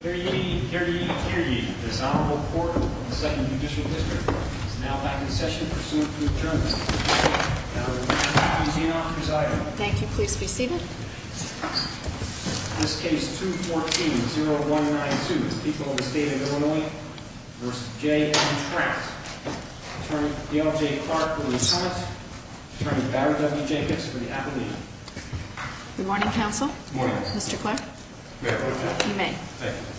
Here ye, here ye, here ye. This Honorable Court of the 2nd Judicial District is now back in session pursuant to adjournment. And I would now like to introduce the inauthor's item. Thank you. Please be seated. This case 214-0192, People of the State of Illinois v. J. M. Trout Attorney Dale J. Clark for the defense, Attorney Barry W. Jacobs for the affidavit. Good morning, counsel. Good morning. Mr. Clark. You may. Thank you.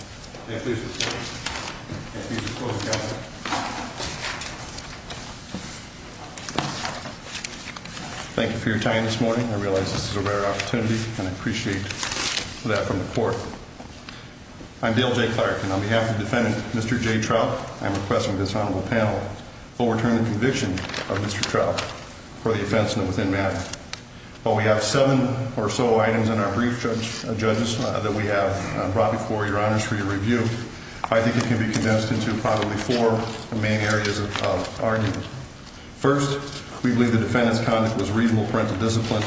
Thank you for your time this morning. I realize this is a rare opportunity, and I appreciate that from the court. I'm Dale J. Clark, and on behalf of the defendant, Mr. J. Trout, I'm requesting this Honorable Panel overturn the conviction of Mr. Trout for the offense in the within matter. While we have seven or so items in our brief, judges, that we have brought before your honors for your review, I think it can be condensed into probably four main areas of argument. First, we believe the defendant's conduct was reasonable parental discipline,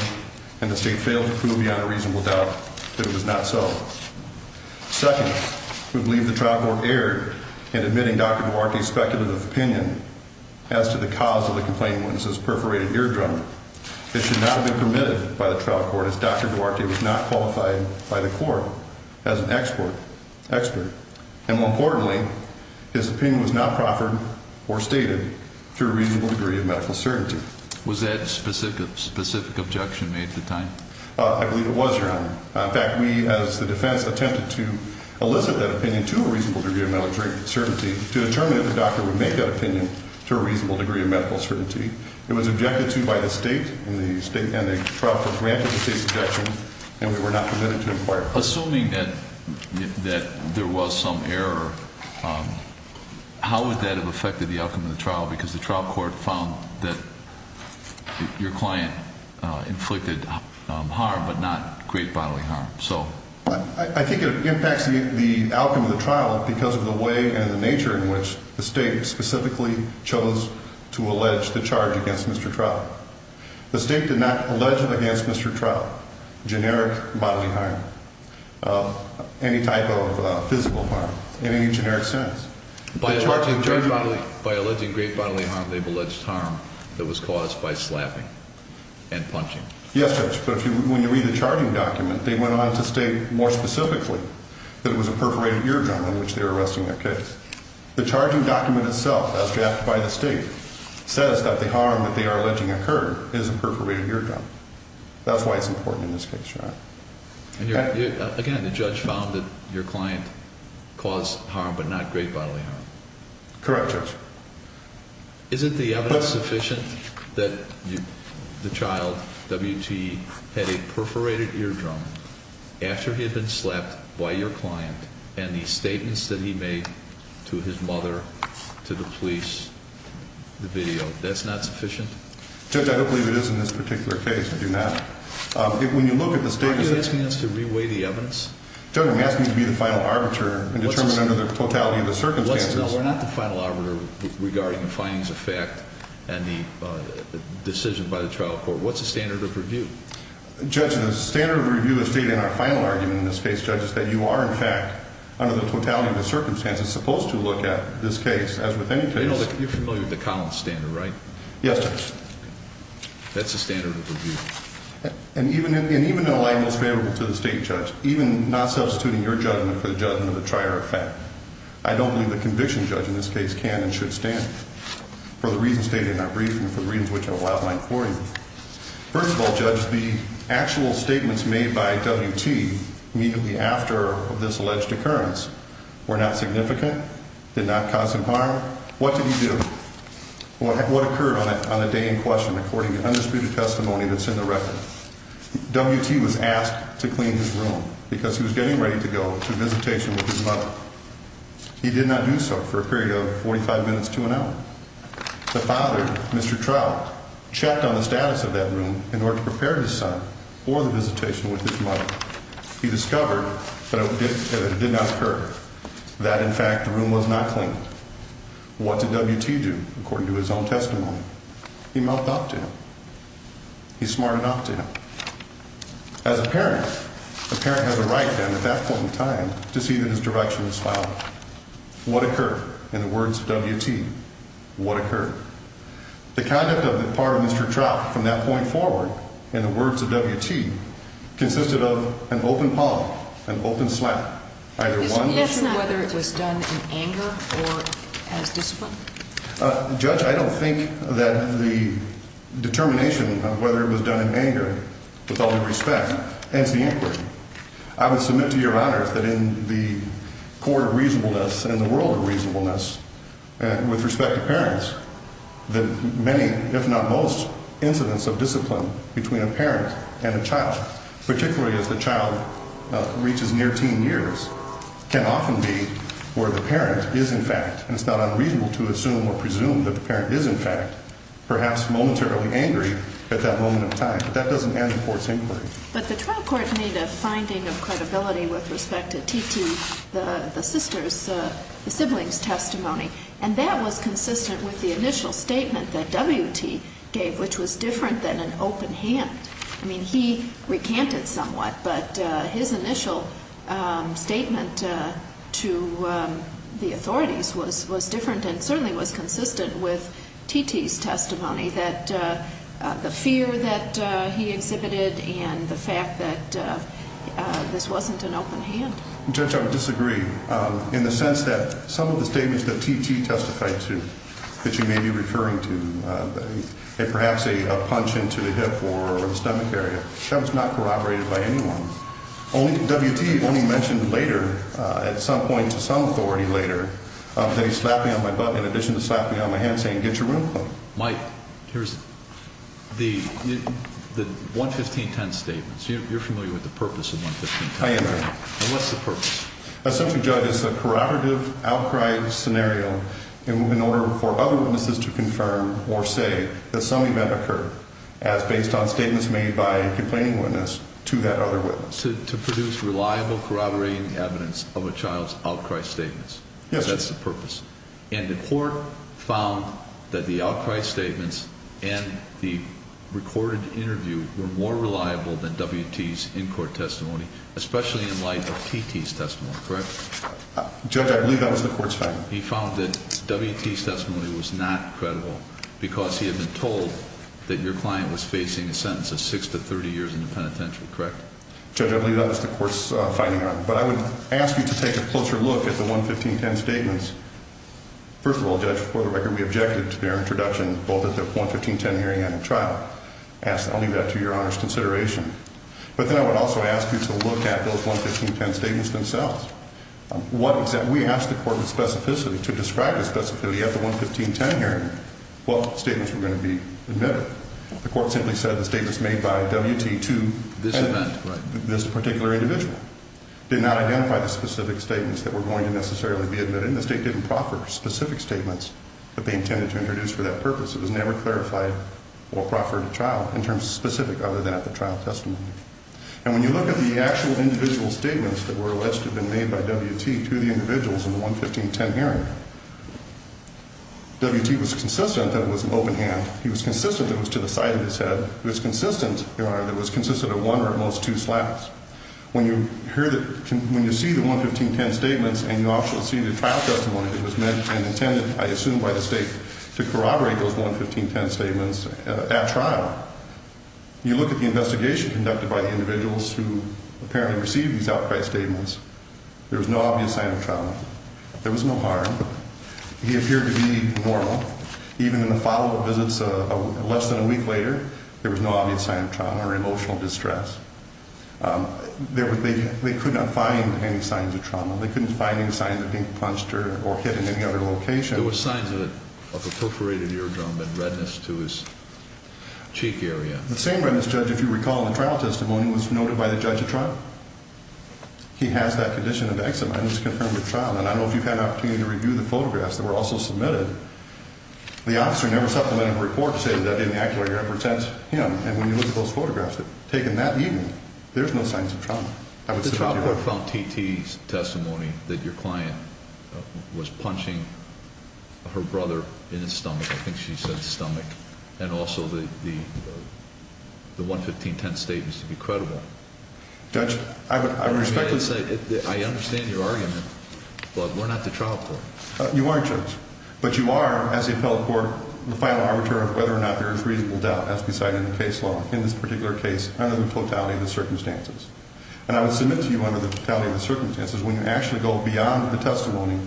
and the state failed to prove beyond a reasonable doubt that it was not so. Second, we believe the trial court erred in admitting Dr. Duarte's speculative opinion as to the cause of the complainant's perforated eardrum. It should not have been permitted by the trial court, as Dr. Duarte was not qualified by the court as an expert. And more importantly, his opinion was not proffered or stated to a reasonable degree of medical certainty. Was that a specific objection made at the time? I believe it was, Your Honor. In fact, we, as the defense, attempted to elicit that opinion to a reasonable degree of medical certainty to determine if the doctor would make that opinion to a reasonable degree of medical certainty. It was objected to by the state, and the trial court granted the state's objection, and we were not permitted to inquire. Assuming that there was some error, how would that have affected the outcome of the trial? Because the trial court found that your client inflicted harm, but not great bodily harm. I think it impacts the outcome of the trial because of the way and the nature in which the state specifically chose to allege the charge against Mr. Traub. The state did not allege it against Mr. Traub, generic bodily harm, any type of physical harm in any generic sense. By alleging great bodily harm, they've alleged harm that was caused by slapping and punching. Yes, but when you read the charging document, they went on to state more specifically that it was a perforated eardrum in which they were arresting their case. The charging document itself, as drafted by the state, says that the harm that they are alleging occurred is a perforated eardrum. That's why it's important in this case, Your Honor. Again, the judge found that your client caused harm, but not great bodily harm. Correct, Judge. Is it the evidence sufficient that the child, WT, had a perforated eardrum after he had been slapped by your client and the statements that he made to his mother, to the police, the video, that's not sufficient? Judge, I don't believe it is in this particular case. I do not. When you look at the statements- Aren't you asking us to re-weigh the evidence? Judge, I'm asking you to be the final arbiter and determine under the totality of the circumstances- Regarding the findings of fact and the decision by the trial court, what's the standard of review? Judge, the standard of review is stated in our final argument in this case, Judge, is that you are, in fact, under the totality of the circumstances, supposed to look at this case, as with any case- You're familiar with the Collins standard, right? Yes, Judge. That's the standard of review. And even in a light most favorable to the state, Judge, even not substituting your judgment for the judgment of the trier of fact, I don't believe the conviction judge in this case can and should stand for the reasons stated in our briefing and for the reasons which I'll outline for you. First of all, Judge, the actual statements made by WT immediately after this alleged occurrence were not significant, did not cause him harm. What did he do? What occurred on the day in question, according to the undisputed testimony that's in the record? WT was asked to clean his room because he was getting ready to go to visitation with his mother. He did not do so for a period of 45 minutes to an hour. The father, Mr. Trout, checked on the status of that room in order to prepare his son for the visitation with his mother. He discovered that it did not occur, that, in fact, the room was not clean. What did WT do, according to his own testimony? He mouthed off to him. He smartened off to him. As a parent, a parent has a right, then, at that point in time, to see that his direction was followed. What occurred? In the words of WT, what occurred? The conduct of the part of Mr. Trout from that point forward, in the words of WT, consisted of an open palm, an open slap. Either one. Is he asking whether it was done in anger or as discipline? Judge, I don't think that the determination of whether it was done in anger, with all due respect, ends the inquiry. I would submit to Your Honor that in the court of reasonableness and the world of reasonableness, with respect to parents, that many, if not most, incidents of discipline between a parent and a child, particularly if the child reaches near teen years, can often be where the parent is, in fact, and it's not unreasonable to assume or presume that the parent is, in fact, perhaps momentarily angry at that moment in time. That doesn't end the court's inquiry. But the trial court made a finding of credibility with respect to T.T., the sister's, the sibling's testimony, and that was consistent with the initial statement that WT gave, which was different than an open hand. I mean, he recanted somewhat, but his initial statement to the authorities was different and certainly was consistent with T.T.'s testimony, that the fear that he exhibited and the fact that this wasn't an open hand. Judge, I would disagree in the sense that some of the statements that T.T. testified to that you may be referring to, perhaps a punch into the hip or the stomach area, that was not corroborated by anyone. WT only mentioned later, at some point to some authority later, that he slapped me on my butt in addition to slapping me on my hand saying, get your room clean. Mike, here's the 11510 statements. You're familiar with the purpose of 11510. I am, Your Honor. And what's the purpose? Essentially, Judge, it's a corroborative outcry scenario in order for other witnesses to confirm or say that some event occurred as based on statements made by a complaining witness to that other witness. To produce reliable corroborating evidence of a child's outcry statements. Yes, Your Honor. That's the purpose. And the court found that the outcry statements and the recorded interview were more reliable than WT's in-court testimony, especially in light of T.T.'s testimony, correct? Judge, I believe that was the court's finding. He found that WT's testimony was not credible because he had been told that your client was facing a sentence of 6 to 30 years in the penitentiary, correct? Judge, I believe that was the court's finding. But I would ask you to take a closer look at the 11510 statements. First of all, Judge, for the record, we objected to their introduction both at the 11510 hearing and at trial. I'll leave that to Your Honor's consideration. But then I would also ask you to look at those 11510 statements themselves. We asked the court with specificity to describe with specificity at the 11510 hearing what statements were going to be admitted. The court simply said the statements made by WT to this particular individual did not identify the specific statements that were going to necessarily be admitted. And the state didn't proffer specific statements that they intended to introduce for that purpose. It was never clarified or proffered at trial in terms of specific other than at the trial testimony. And when you look at the actual individual statements that were alleged to have been made by WT to the individuals in the 11510 hearing, WT was consistent that it was an open hand. He was consistent that it was to the side of his head. He was consistent, Your Honor, that it was consistent of one or at most two slaps. When you see the 11510 statements and you also see the trial testimony that was meant and intended, I assume by the state, to corroborate those 11510 statements at trial, you look at the investigation conducted by the individuals who apparently received these outright statements. There was no obvious sign of trauma. There was no harm. He appeared to be normal. Even in the follow-up visits less than a week later, there was no obvious sign of trauma or emotional distress. They could not find any signs of trauma. They couldn't find any signs of being punched or hit in any other location. There were signs of a perforated eardrum and redness to his cheek area. The same redness, Judge, if you recall in the trial testimony, was noted by the judge at trial. He has that condition of eczema. It was confirmed at trial. And I don't know if you've had an opportunity to review the photographs that were also submitted. The officer never supplemented a report to say that that didn't accurately represent him. And when you look at those photographs taken that evening, there's no signs of trauma. The trial court found T.T.'s testimony that your client was punching her brother in his stomach. I think she said stomach. And also the 11510 statement is to be credible. Judge, I respectfully say that I understand your argument, but we're not the trial court. You are, Judge. But you are, as the appellate court, the final arbiter of whether or not there is reasonable doubt, as decided in the case law in this particular case under the totality of the circumstances. And I would submit to you under the totality of the circumstances, when you actually go beyond the testimony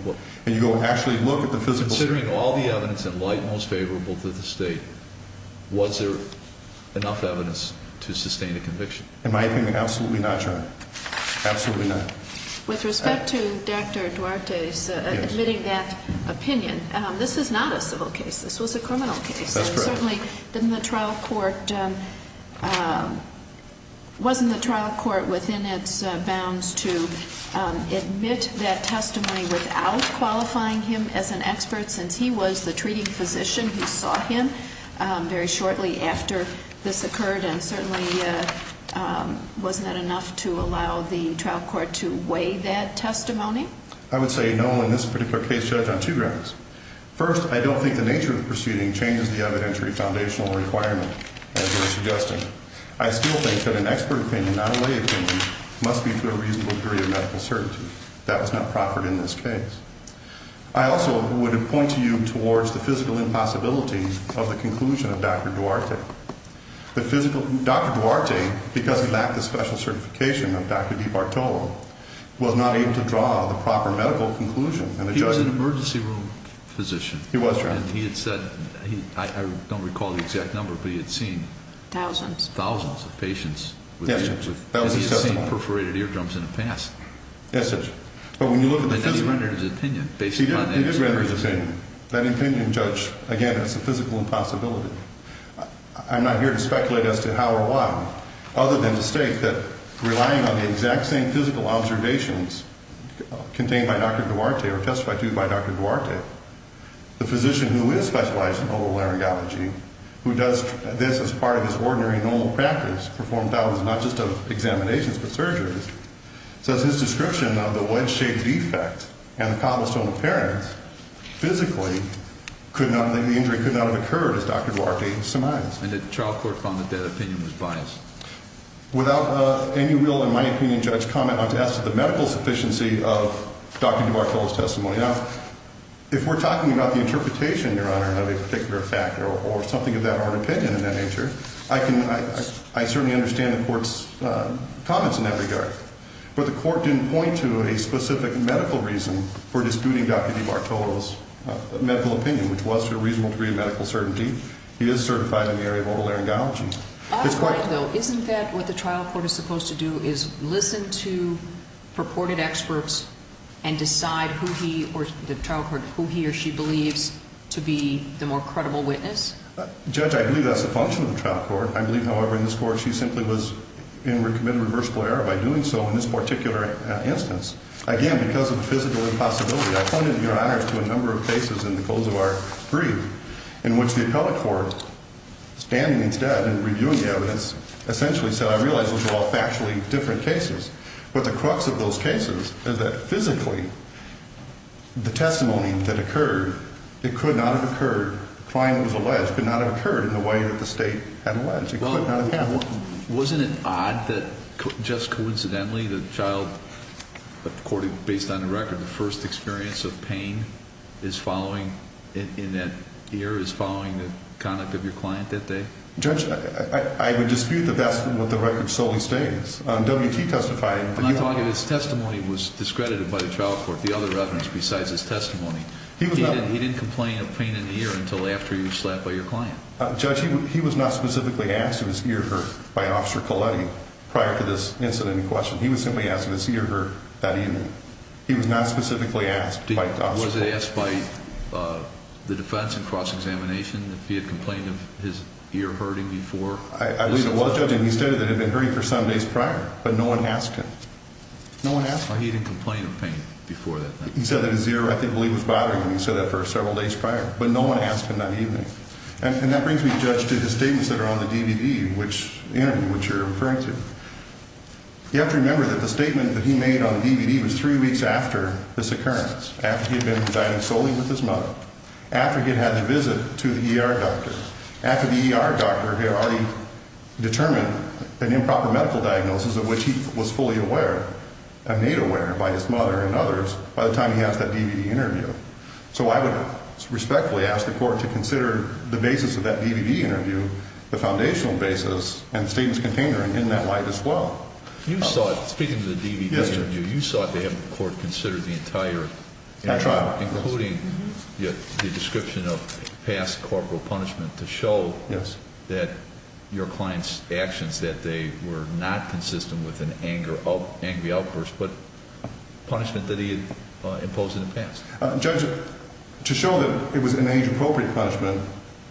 and you go and actually look at the physical statement. Considering all the evidence in light and most favorable to the state, was there enough evidence to sustain a conviction? In my opinion, absolutely not, Your Honor. Absolutely not. With respect to Dr. Duarte's admitting that opinion, this is not a civil case. This was a criminal case. That's correct. Certainly, wasn't the trial court within its bounds to admit that testimony without qualifying him as an expert, since he was the treating physician who saw him very shortly after this occurred? And certainly, wasn't that enough to allow the trial court to weigh that testimony? I would say no in this particular case, Judge, on two grounds. First, I don't think the nature of the proceeding changes the evidentiary foundational requirement, as you're suggesting. I still think that an expert opinion, not a lay opinion, must be to a reasonable degree of medical certainty. That was not proffered in this case. I also would point to you towards the physical impossibility of the conclusion of Dr. Duarte. Dr. Duarte, because he lacked the special certification of Dr. DiBartolo, was not able to draw the proper medical conclusion. He was an emergency room physician. He was, Your Honor. And he had said, I don't recall the exact number, but he had seen thousands of patients. Yes, Judge. And he had seen perforated eardrums in the past. Yes, Judge. But when you look at the physical. And he rendered his opinion based upon that. He did render his opinion. That opinion, Judge, again, is a physical impossibility. I'm not here to speculate as to how or why, other than to state that relying on the exact same physical observations contained by Dr. Duarte or testified to by Dr. Duarte, the physician who is specialized in oval laryngology, who does this as part of his ordinary normal practice, performed thousands not just of examinations but surgeries, says his description of the wedge-shaped defect and the cobblestone appearance, physically, the injury could not have occurred as Dr. Duarte surmised. And the trial court found that that opinion was biased. Without any real, in my opinion, Judge, comment, I'd like to ask for the medical sufficiency of Dr. Duarte's testimony. Now, if we're talking about the interpretation, Your Honor, of a particular factor or something of that art opinion in that nature, I certainly understand the court's comments in that regard. But the court didn't point to a specific medical reason for disputing Dr. Duarte's medical opinion, which was to a reasonable degree of medical certainty. He is certified in the area of oval laryngology. Oddly, though, isn't that what the trial court is supposed to do, is listen to purported experts and decide who he or the trial court, who he or she believes to be the more credible witness? Judge, I believe that's the function of the trial court. I believe, however, in this court she simply was in or committed a reversible error by doing so in this particular instance. Again, because of the physical impossibility, I pointed, Your Honor, to a number of cases in the Kosovar brief in which the appellate court, standing instead and reviewing the evidence, essentially said, I realize those are all factually different cases. But the crux of those cases is that physically the testimony that occurred, it could not have occurred, the client was alleged, could not have occurred in the way that the state had alleged. It could not have happened. Well, wasn't it odd that just coincidentally the child, according, based on the record, the first experience of pain in that ear is following the conduct of your client that day? Judge, I would dispute that that's what the record solely states. W.T. testified. But, Your Honor, his testimony was discredited by the trial court, the other evidence besides his testimony. He didn't complain of pain in the ear until after he was slapped by your client. Judge, he was not specifically asked if his ear hurt by Officer Coletti prior to this incident in question. He was simply asked if his ear hurt that evening. He was not specifically asked by Officer Coletti. Was he asked by the defense in cross-examination if he had complained of his ear hurting before? I believe it was, Judge, and he stated that it had been hurting for some days prior, but no one asked him. No one asked him. He didn't complain of pain before that. He said that his ear, I believe, was bothering him. He said that for several days prior, but no one asked him that evening. And that brings me, Judge, to the statements that are on the DVD, which you're referring to. You have to remember that the statement that he made on the DVD was three weeks after this occurrence, after he had been residing solely with his mother, after he had had the visit to the ER doctor. After the ER doctor had already determined an improper medical diagnosis of which he was fully aware, made aware by his mother and others, by the time he asked that DVD interview. So I would respectfully ask the court to consider the basis of that DVD interview, the foundational basis and the statements contained therein, in that light as well. You saw it, speaking of the DVD interview, you saw it. The court considered the entire interview. That trial. Including the description of past corporal punishment to show that your client's actions, that they were not consistent with an angry outburst, but punishment that he had imposed in the past. Judge, to show that it was an age-appropriate punishment,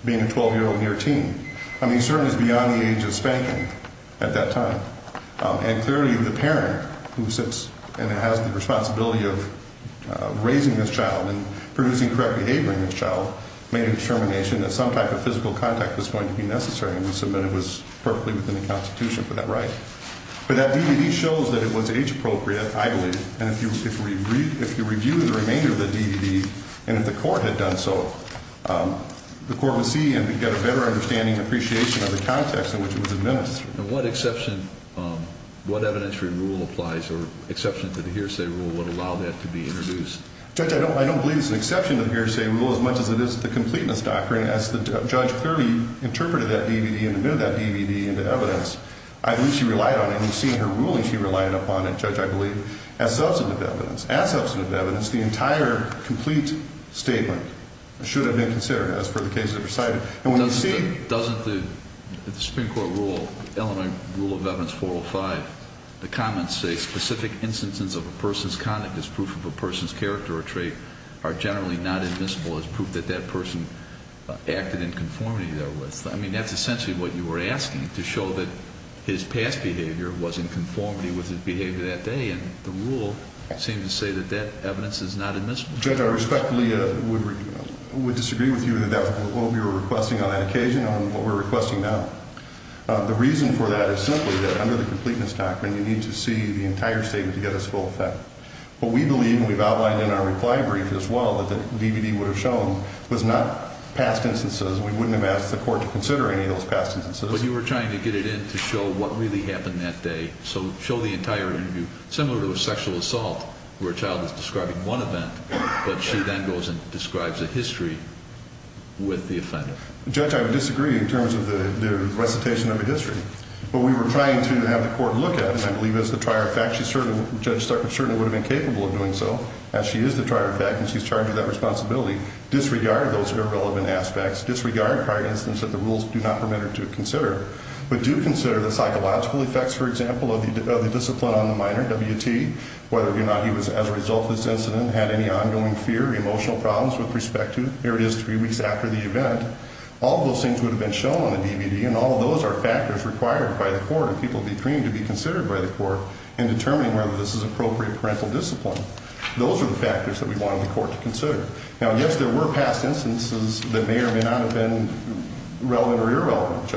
being a 12-year-old and you're a teen, I mean, he certainly is beyond the age of spanking at that time. And clearly the parent who sits and has the responsibility of raising this child and producing correct behavior in this child made a determination that some type of physical contact was going to be necessary. And we submit it was perfectly within the Constitution for that right. But that DVD shows that it was age-appropriate, I believe. And if you review the remainder of the DVD and if the court had done so, the court would see and get a better understanding and appreciation of the context in which it was administered. And what exception, what evidentiary rule applies or exception to the hearsay rule would allow that to be introduced? Judge, I don't believe it's an exception to the hearsay rule as much as it is the completeness doctrine. As the judge clearly interpreted that DVD and admitted that DVD into evidence, I believe she relied on it. As substantive evidence. As substantive evidence, the entire complete statement should have been considered as per the cases that were cited. Doesn't the Supreme Court rule, Illinois Rule of Evidence 405, the comments say specific instances of a person's conduct as proof of a person's character or trait are generally not admissible as proof that that person acted in conformity therewith. I mean, that's essentially what you were asking, to show that his past behavior was in conformity with his behavior that day and the rule seemed to say that that evidence is not admissible. Judge, I respectfully would disagree with you that that's what we were requesting on that occasion and what we're requesting now. The reason for that is simply that under the completeness doctrine, you need to see the entire statement to get us full effect. But we believe and we've outlined in our reply brief as well that the DVD would have shown was not past instances. We wouldn't have asked the court to consider any of those past instances. But you were trying to get it in to show what really happened that day. So show the entire interview, similar to a sexual assault where a child is describing one event, but she then goes and describes a history with the offender. Judge, I would disagree in terms of the recitation of a history. What we were trying to have the court look at, and I believe as the trier of fact, Judge Sutton certainly would have been capable of doing so as she is the trier of fact and she's charged with that responsibility, disregard those irrelevant aspects, disregard prior instances that the rules do not permit her to consider, but do consider the psychological effects, for example, of the discipline on the minor, WT, whether or not he was, as a result of this incident, had any ongoing fear, emotional problems with respect to, here it is three weeks after the event. All of those things would have been shown on the DVD and all of those are factors required by the court and people would be freeing to be considered by the court in determining whether this is appropriate parental discipline. Those are the factors that we wanted the court to consider. Now, yes, there were past instances that may or may not have been relevant or irrelevant.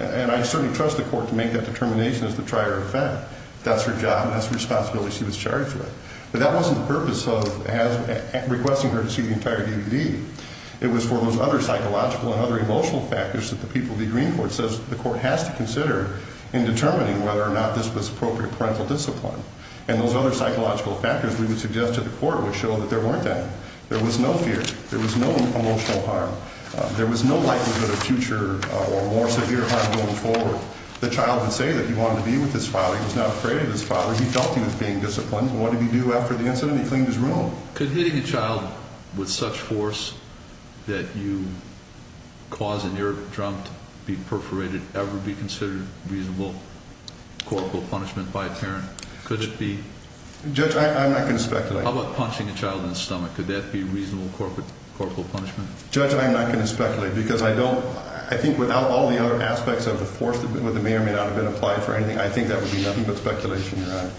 And I certainly trust the court to make that determination as the trier of fact. That's her job and that's the responsibility she was charged with. But that wasn't the purpose of requesting her to see the entire DVD. It was for those other psychological and other emotional factors that the people would be agreeing for. It says the court has to consider in determining whether or not this was appropriate parental discipline. And those other psychological factors we would suggest to the court would show that there weren't any. There was no fear. There was no emotional harm. There was no likelihood of future or more severe harm going forward. The child would say that he wanted to be with his father. He was not afraid of his father. He felt he was being disciplined. What did he do after the incident? He cleaned his room. Could hitting a child with such force that you cause an ear drum to be perforated ever be considered reasonable corporal punishment by a parent? Could it be? Judge, I'm not going to speculate. How about punching a child in the stomach? Could that be reasonable corporal punishment? Judge, I'm not going to speculate because I think without all the other aspects of the force that may or may not have been applied for anything, I think that would be nothing but speculation, Your Honor.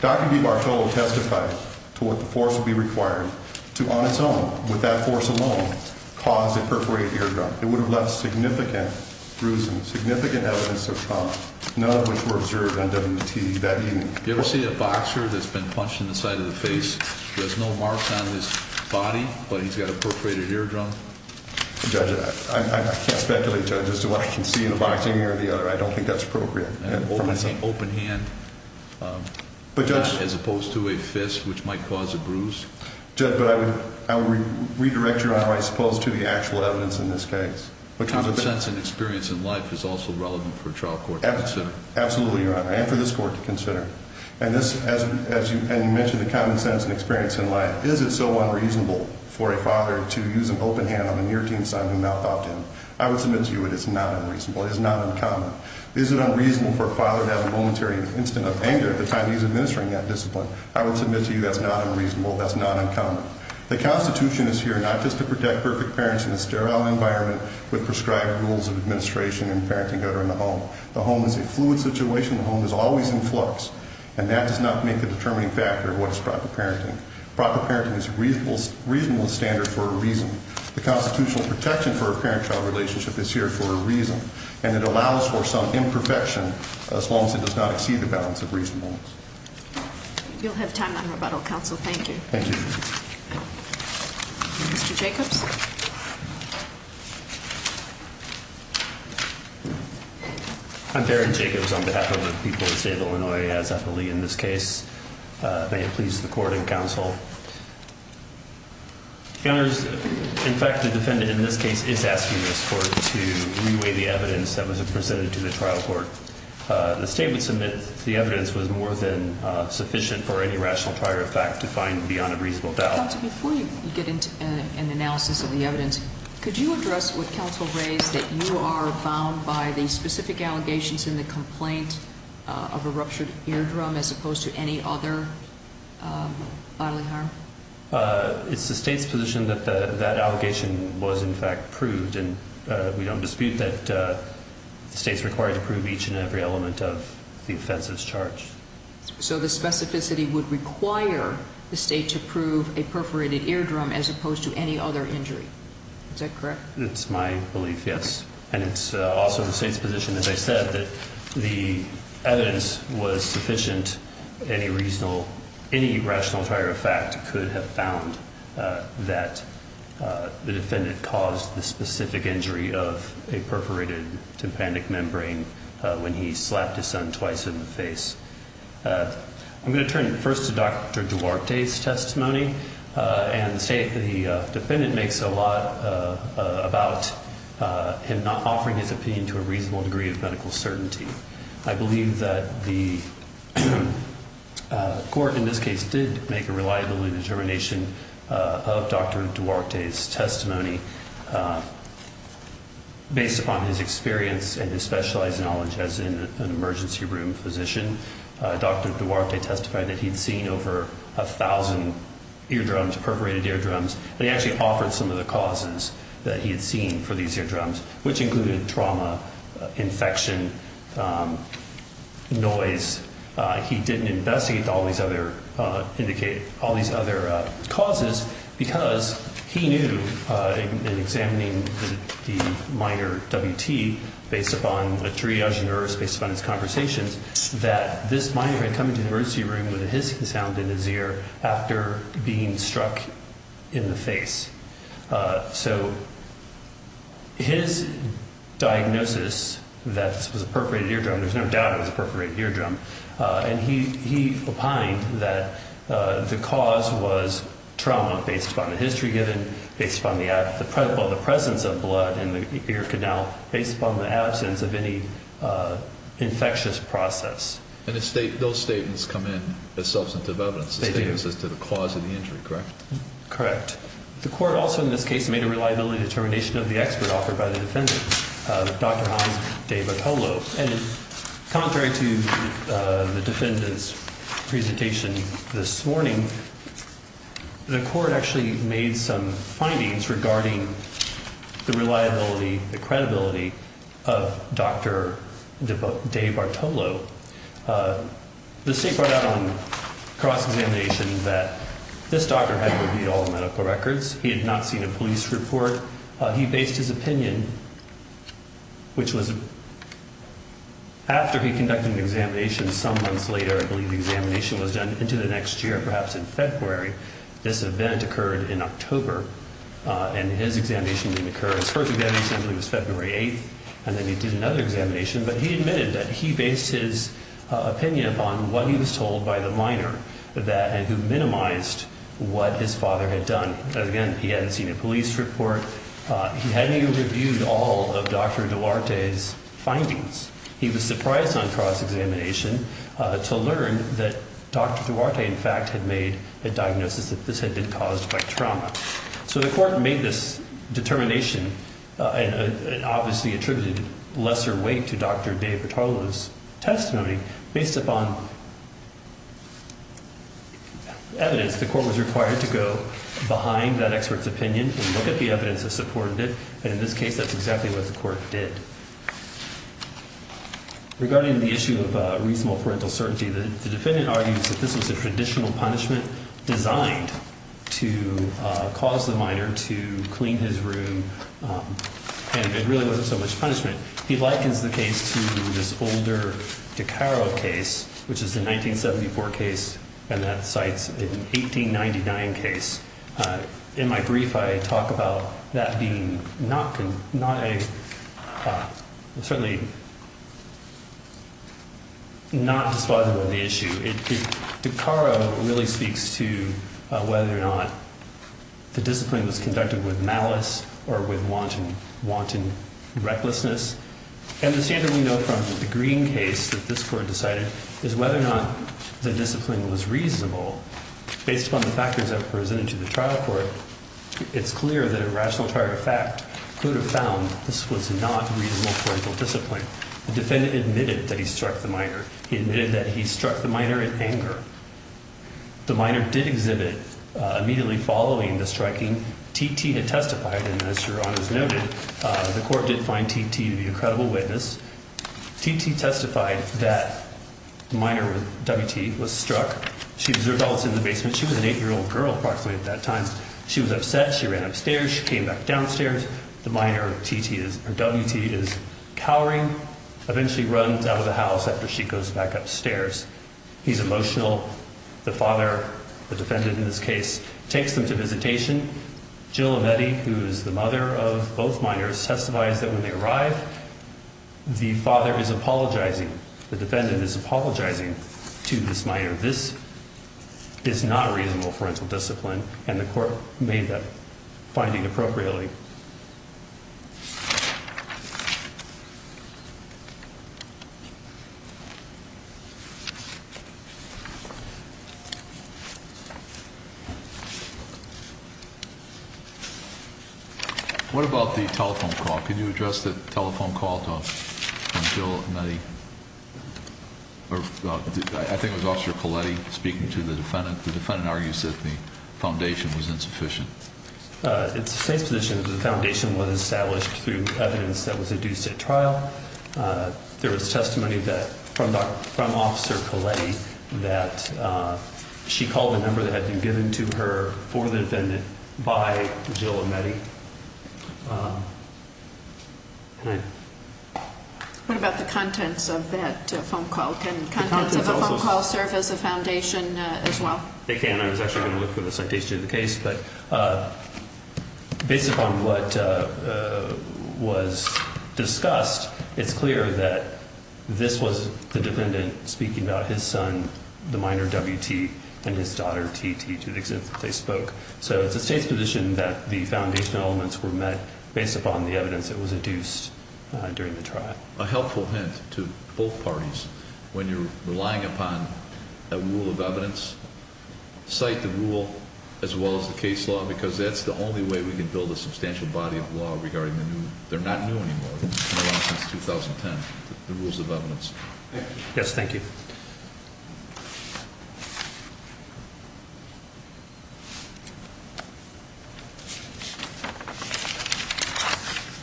Dr. DeBartolo testified to what the force would be required to, on its own, with that force alone, cause a perforated ear drum. It would have left significant bruising, significant evidence of trauma, none of which were observed on WT that evening. You ever see a boxer that's been punched in the side of the face? There's no marks on his body, but he's got a perforated ear drum? Judge, I can't speculate, Judge, as to what I can see in the boxing ear or the other. I don't think that's appropriate. An open hand, as opposed to a fist, which might cause a bruise? Judge, I would redirect Your Honor, I suppose, to the actual evidence in this case. Common sense and experience in life is also relevant for a trial court to consider. Absolutely, Your Honor, and for this court to consider. And you mentioned the common sense and experience in life. Is it so unreasonable for a father to use an open hand on a near-teen son who mouthed out to him? I would submit to you it is not unreasonable. It is not uncommon. Is it unreasonable for a father to have a momentary instant of anger at the time he's administering that discipline? I would submit to you that's not unreasonable. That's not uncommon. The Constitution is here not just to protect perfect parents in a sterile environment with prescribed rules of administration and parenting order in the home. The home is a fluid situation. The home is always in flux. And that does not make a determining factor of what is proper parenting. Proper parenting is a reasonable standard for a reason. The constitutional protection for a parent-child relationship is here for a reason. And it allows for some imperfection as long as it does not exceed the balance of reasonableness. You'll have time on rebuttal, counsel. Thank you. Thank you. Mr. Jacobs? I'm Barron Jacobs on behalf of the people of the state of Illinois. As I believe in this case, may it please the court and counsel. In fact, the defendant in this case is asking this court to reweigh the evidence that was presented to the trial court. The statement submitted to the evidence was more than sufficient for any rational prior effect to find beyond a reasonable doubt. Before you get into an analysis of the evidence, could you address what counsel raised that you are bound by the specific allegations in the complaint of a ruptured eardrum as opposed to any other bodily harm? It's the state's position that that allegation was, in fact, proved. And we don't dispute that the state is required to prove each and every element of the offensive's charge. So the specificity would require the state to prove a perforated eardrum as opposed to any other injury. Is that correct? It's my belief, yes. And it's also the state's position, as I said, that the evidence was sufficient. Any rational prior effect could have found that the defendant caused the specific injury of a perforated tympanic membrane when he slapped his son twice in the face. I'm going to turn first to Dr. Duarte's testimony. And the defendant makes a lot about him not offering his opinion to a reasonable degree of medical certainty. I believe that the court in this case did make a reliability determination of Dr. Duarte's testimony based upon his experience and his specialized knowledge as an emergency room physician. Dr. Duarte testified that he'd seen over 1,000 eardrums, perforated eardrums, and he actually offered some of the causes that he had seen for these eardrums, which included trauma, infection, noise. He didn't investigate all these other causes because he knew in examining the minor WT based upon a triage nurse, based upon his conversations, that this minor had come into the emergency room with a hissing sound in his ear after being struck in the face. So his diagnosis that this was a perforated eardrum, there's no doubt it was a perforated eardrum, and he opined that the cause was trauma based upon the history given, based upon the presence of blood in the ear canal, based upon the absence of any infectious process. And those statements come in as substantive evidence. They do. As to the cause of the injury, correct? Correct. The court also in this case made a reliability determination of the expert offered by the defendant, Dr. Hans De Bartolo. And contrary to the defendant's presentation this morning, the court actually made some findings regarding the reliability, the credibility of Dr. De Bartolo. The state brought out on cross-examination that this doctor had reviewed all the medical records. He had not seen a police report. He based his opinion, which was after he conducted an examination some months later, I believe the examination was done into the next year, perhaps in February. This event occurred in October, and his examination didn't occur. His first examination, I believe, was February 8th, and then he did another examination. But he admitted that he based his opinion upon what he was told by the minor, and who minimized what his father had done. Again, he hadn't seen a police report. He hadn't even reviewed all of Dr. Duarte's findings. He was surprised on cross-examination to learn that Dr. Duarte, in fact, So the court made this determination and obviously attributed lesser weight to Dr. De Bartolo's testimony. Based upon evidence, the court was required to go behind that expert's opinion and look at the evidence that supported it. And in this case, that's exactly what the court did. Regarding the issue of reasonable parental certainty, the defendant argues that this was a traditional punishment designed to cause the minor to clean his room, and it really wasn't so much punishment. He likens the case to this older DiCaro case, which is the 1974 case, and that cites an 1899 case. In my brief, I talk about that being certainly not dispositive of the issue. DiCaro really speaks to whether or not the discipline was conducted with malice or with wanton recklessness. And the standard we know from the Green case that this court decided is whether or not the discipline was reasonable based upon the factors that were presented to the trial court, it's clear that a rational charge of fact could have found this was not reasonable parental discipline. The defendant admitted that he struck the minor. He admitted that he struck the minor in anger. The minor did exhibit immediately following the striking. T.T. had testified, and as Your Honors noted, the court did find T.T. to be a credible witness. T.T. testified that the minor, W.T., was struck. She observed all this in the basement. She was an 8-year-old girl approximately at that time. She was upset. She ran upstairs. She came back downstairs. The minor, W.T., is cowering, eventually runs out of the house after she goes back upstairs. He's emotional. The father, the defendant in this case, takes them to visitation. Jill Avedi, who is the mother of both minors, testifies that when they arrive, the father is apologizing. The defendant is apologizing to this minor. This is not reasonable parental discipline, and the court made that finding appropriately. What about the telephone call? Can you address the telephone call from Jill Avedi? I think it was Officer Colletti speaking to the defendant. The defendant argues that the foundation was insufficient. It's the state's position that the foundation was established through evidence that was induced at trial. There was testimony from Officer Colletti that she called the number that had been given to her for the defendant by Jill Avedi. What about the contents of that phone call? Can contents of a phone call serve as a foundation as well? They can. I was actually going to look for the citation of the case. Based upon what was discussed, it's clear that this was the defendant speaking about his son, the minor, W.T., and his daughter, T.T., to the extent that they spoke. So it's the state's position that the foundation elements were met based upon the evidence that was induced during the trial. A helpful hint to both parties, when you're relying upon a rule of evidence, cite the rule as well as the case law because that's the only way we can build a substantial body of law regarding the new. They're not new anymore. They've been around since 2010, the rules of evidence. Yes, thank you.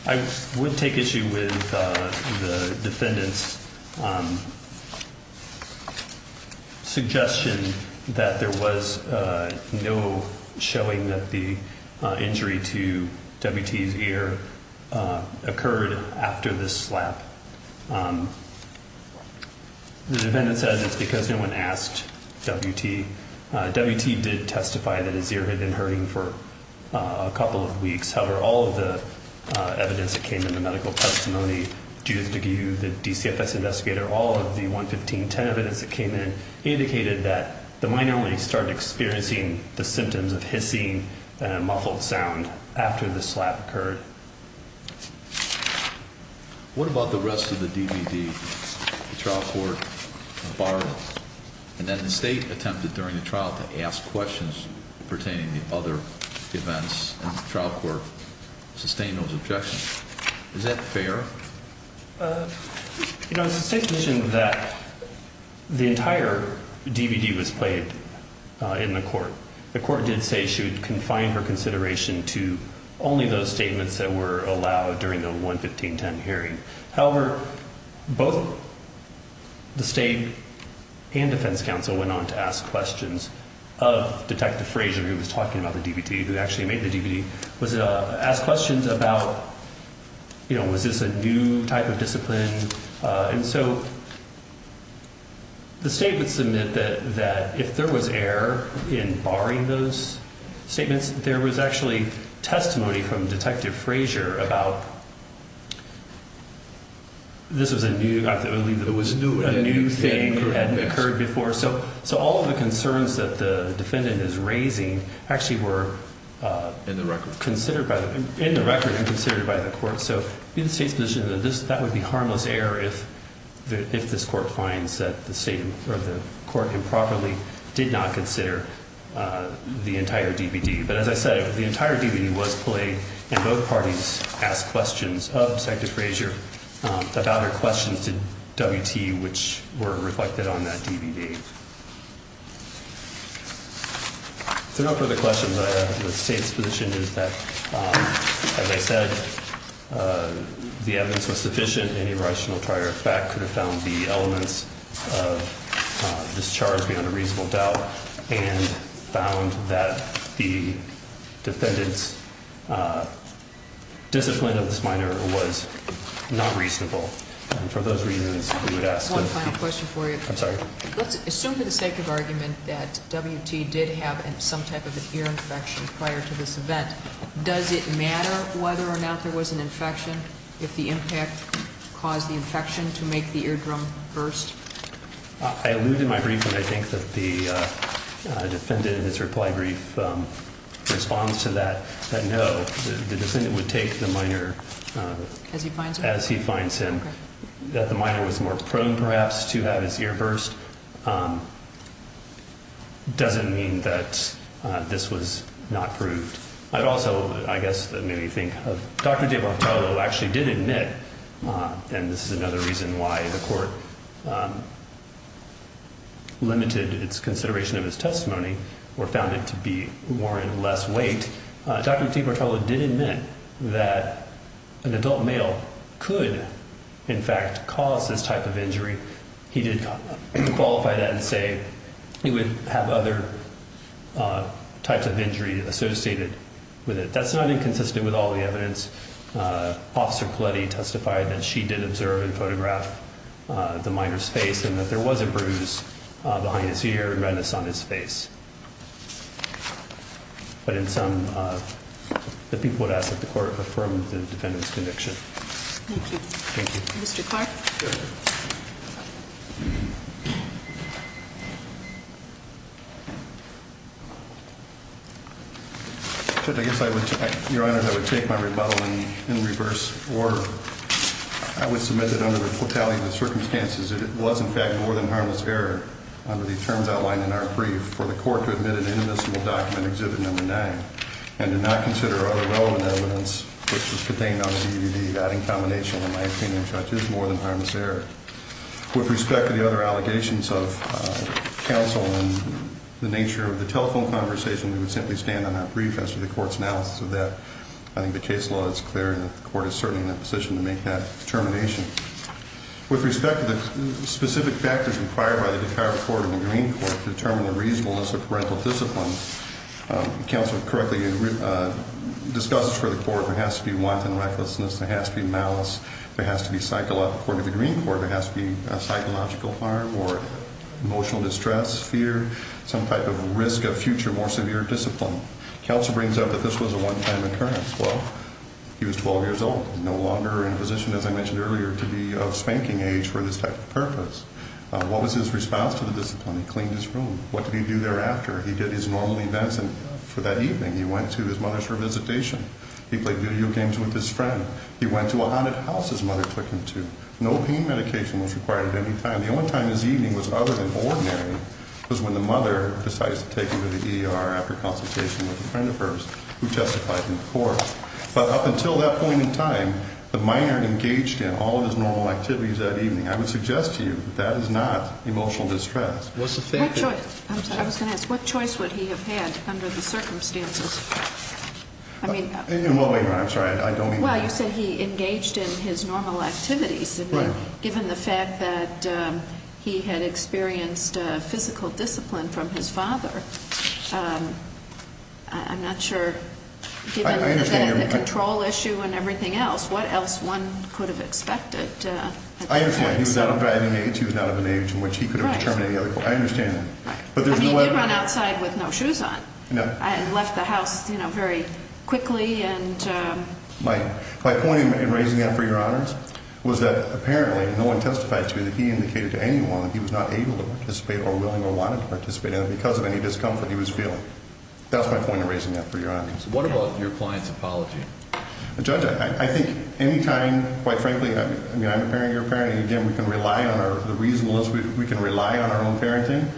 I would take issue with the defendant's suggestion that there was no showing that the injury to W.T.'s ear occurred after this slap. The defendant said it's because no one asked W.T. W.T. did testify that his ear had been hurting for a couple of weeks. However, all of the evidence that came in, the medical testimony, Judith DeGue, the DCFS investigator, all of the 11510 evidence that came in indicated that the minor only started experiencing the symptoms of hissing and a muffled sound after the slap occurred. What about the rest of the DVD? The trial court borrowed and then the state attempted during the trial to ask questions pertaining to other events and the trial court sustained those objections. Is that fair? You know, the state mentioned that the entire DVD was played in the court. The court did say she would confine her consideration to only those statements that were allowed during the 11510 hearing. However, both the state and defense counsel went on to ask questions of Detective Frazier, who was talking about the DVD, who actually made the DVD, was to ask questions about, you know, was this a new type of discipline? And so the state would submit that if there was error in barring those statements, there was actually testimony from Detective Frazier about this was a new thing that hadn't occurred before. So all of the concerns that the defendant is raising actually were in the record and considered by the court. So in the state's position, that would be harmless error if this court finds that the state or the court improperly did not consider the entire DVD. But as I said, the entire DVD was played and both parties asked questions of Detective Frazier about her questions to WT, which were reflected on that DVD. So no further questions. The state's position is that, as I said, the evidence was sufficient. Any rational trier of fact could have found the elements of this charge beyond a reasonable doubt and found that the defendant's discipline of this minor was not reasonable. And for those reasons, we would ask one final question for you. I'm sorry. Let's assume for the sake of argument that WT did have some type of an ear infection prior to this event. Does it matter whether or not there was an infection if the impact caused the infection to make the eardrum burst? I alluded my brief and I think that the defendant in his reply brief responds to that, that no, the defendant would take the minor as he finds him. That the minor was more prone, perhaps, to have his ear burst doesn't mean that this was not proved. I'd also, I guess, maybe think of Dr. DeBartolo actually did admit, and this is another reason why the court limited its consideration of his testimony or found it to be warranted less weight. Dr. DeBartolo did admit that an adult male could, in fact, cause this type of injury. He did qualify that and say he would have other types of injury associated with it. That's not inconsistent with all the evidence. Officer Coletti testified that she did observe and photograph the minor's face and that there was a bruise behind his ear and redness on his face. But in sum, the people would ask that the court affirm the defendant's conviction. Thank you. Thank you. Mr. Clark. I guess I would, Your Honor, I would take my rebuttal in reverse order. I would submit that under the fatality of the circumstances that it was, in fact, more than harmless error under the terms outlined in our brief for the court to admit an indivisible document, exhibit number nine. And to not consider other relevant evidence, which is contained on the DVD, that in combination, in my opinion, Judge, is more than harmless error. With respect to the other allegations of counsel and the nature of the telephone conversation, we would simply stand on that brief as to the court's analysis of that. I think the case law is clear and the court is certainly in a position to make that determination. With respect to the specific factors required by the DeKalb Court and the Green Court to determine the reasonableness of parental discipline, counsel correctly discusses for the court there has to be wanton recklessness. There has to be malice. There has to be psychological, according to the Green Court, there has to be a psychological harm or emotional distress, fear, some type of risk of future more severe discipline. Counsel brings up that this was a one-time occurrence. Well, he was 12 years old, no longer in a position, as I mentioned earlier, to be of spanking age for this type of purpose. What was his response to the discipline? He cleaned his room. What did he do thereafter? He did his normal events for that evening. He went to his mother's for a visitation. He played video games with his friend. He went to a haunted house his mother took him to. No pain medication was required at any time. The only time his evening was other than ordinary was when the mother decided to take him to the ER after consultation with a friend of hers who testified in the court. But up until that point in time, the minor engaged in all of his normal activities that evening. I would suggest to you that that is not emotional distress. What choice would he have had under the circumstances? Well, wait a minute. I'm sorry. I don't mean that. Well, you said he engaged in his normal activities. Right. Given the fact that he had experienced physical discipline from his father, I'm not sure. I understand. Given the control issue and everything else, what else one could have expected? I understand. He was not of an age in which he could have determined any other course. Right. I understand that. Right. I mean, he did run outside with no shoes on. No. And left the house, you know, very quickly. My point in raising that for your honors was that apparently no one testified to that he indicated to anyone that he was not able to participate or willing or wanting to participate in it because of any discomfort he was feeling. That's my point in raising that for your honors. What about your client's apology? Judge, I think any time, quite frankly, I mean, I'm a parent. You're a parent. Again, we can rely on our own parenting.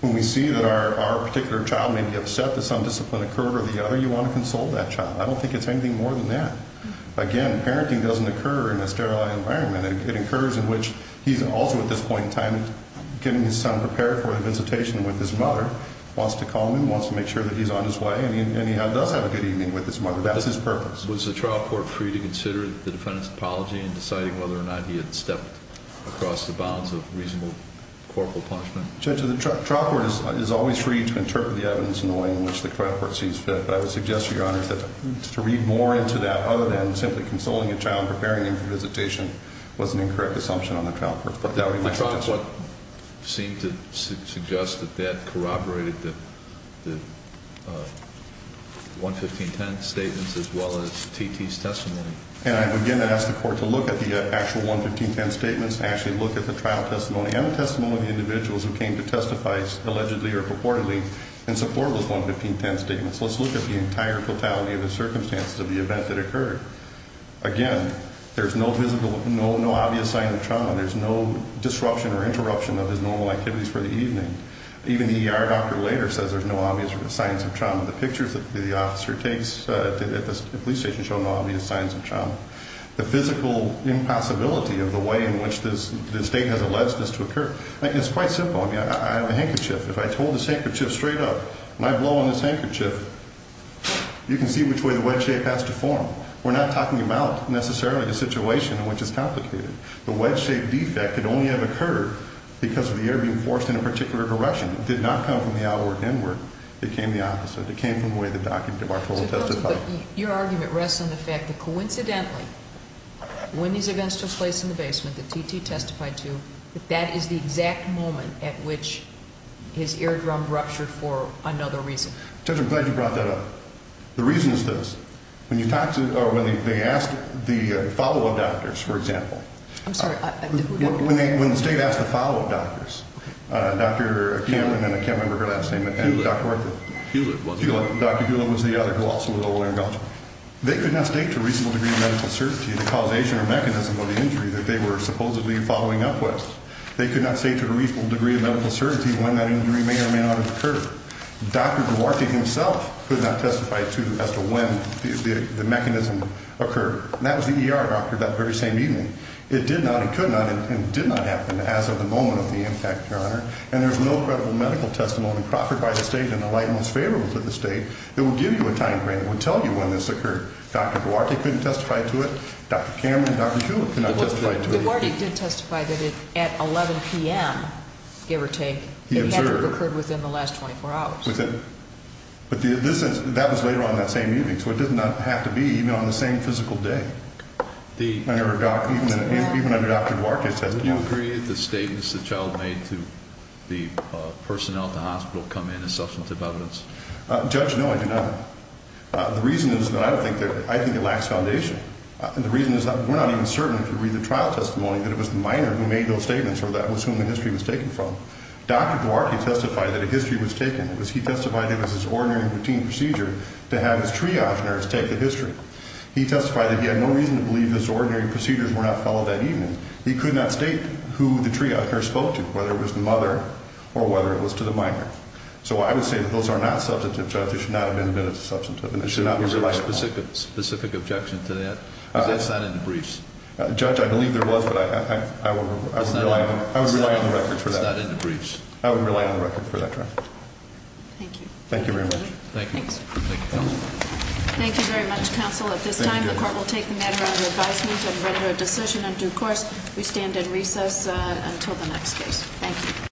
When we see that our particular child may be upset that some discipline occurred or the other, you want to console that child. I don't think it's anything more than that. Again, parenting doesn't occur in a sterile environment. It occurs in which he's also at this point in time getting his son prepared for a visitation with his mother, wants to call him, wants to make sure that he's on his way, and he does have a good evening with his mother. That's his purpose. Was the trial court free to consider the defendant's apology in deciding whether or not he had stepped across the bounds of reasonable corporal punishment? Judge, the trial court is always free to interpret the evidence in the way in which the trial court sees fit. But I would suggest to your honors that to read more into that other than simply consoling a child and preparing him for visitation was an incorrect assumption on the trial court's part. The trial court seemed to suggest that that corroborated the 11510 statements as well as T.T.'s testimony. And I again ask the court to look at the actual 11510 statements and actually look at the trial testimony and the testimony of the individuals who came to testify allegedly or purportedly in support of those 11510 statements. Let's look at the entire totality of the circumstances of the event that occurred. Again, there's no obvious sign of trauma. There's no disruption or interruption of his normal activities for the evening. Even the ER doctor later says there's no obvious signs of trauma. The pictures that the officer takes at the police station show no obvious signs of trauma. The physical impossibility of the way in which the state has alleged this to occur is quite simple. I mean, I have a handkerchief. If I hold this handkerchief straight up and I blow on this handkerchief, you can see which way the wedge shape has to form. We're not talking about necessarily the situation in which it's complicated. The wedge-shaped defect could only have occurred because of the air being forced in a particular direction. It did not come from the outward inward. It came the opposite. It came from the way the doctor demarcable testified. Your argument rests on the fact that coincidentally when these events took place in the basement that T.T. testified to, that that is the exact moment at which his eardrum ruptured for another reason. Judge, I'm glad you brought that up. The reason is this. When you talk to or when they asked the follow-up doctors, for example. I'm sorry. When the state asked the follow-up doctors, Dr. Cameron and I can't remember her last name. Hewlett. Dr. Hewlett was the other who also was a lawyer in Belgium. They could not state to a reasonable degree of medical certainty the causation or mechanism of the injury that they were supposedly following up with. They could not say to a reasonable degree of medical certainty when that injury may or may not have occurred. Dr. Duarte himself could not testify to as to when the mechanism occurred. And that was the ER doctor that very same evening. It did not and could not and did not happen as of the moment of the impact, Your Honor. And there's no credible medical testimony in Crawford by the state in the light most favorable to the state that would give you a time frame that would tell you when this occurred. Dr. Duarte couldn't testify to it. Dr. Cameron and Dr. Hewlett could not testify to it. Dr. Duarte did testify that at 11 p.m., give or take, it had to have occurred within the last 24 hours. But that was later on that same evening, so it does not have to be even on the same physical day. Even under Dr. Duarte's testimony. Do you agree with the statements the child made to the personnel at the hospital come in as substantive evidence? Judge, no, I do not. The reason is that I think it lacks foundation. The reason is that we're not even certain if you read the trial testimony that it was the minor who made those statements or that was whom the history was taken from. Dr. Duarte testified that a history was taken. He testified it was his ordinary routine procedure to have his triage nurse take the history. He testified that he had no reason to believe his ordinary procedures were not followed that evening. He could not state who the triage nurse spoke to, whether it was the mother or whether it was to the minor. So I would say that those are not substantive, Judge. They should not have been admitted as substantive. There should not be a specific objection to that. That's not in the briefs. Judge, I believe there was, but I would rely on the record for that. It's not in the briefs. I would rely on the record for that trial. Thank you. Thank you very much. Thank you. Thank you, Counsel. Thank you very much, Counsel. At this time, the court will take the matter under advisement and render a decision in due course. We stand in recess until the next case. Thank you.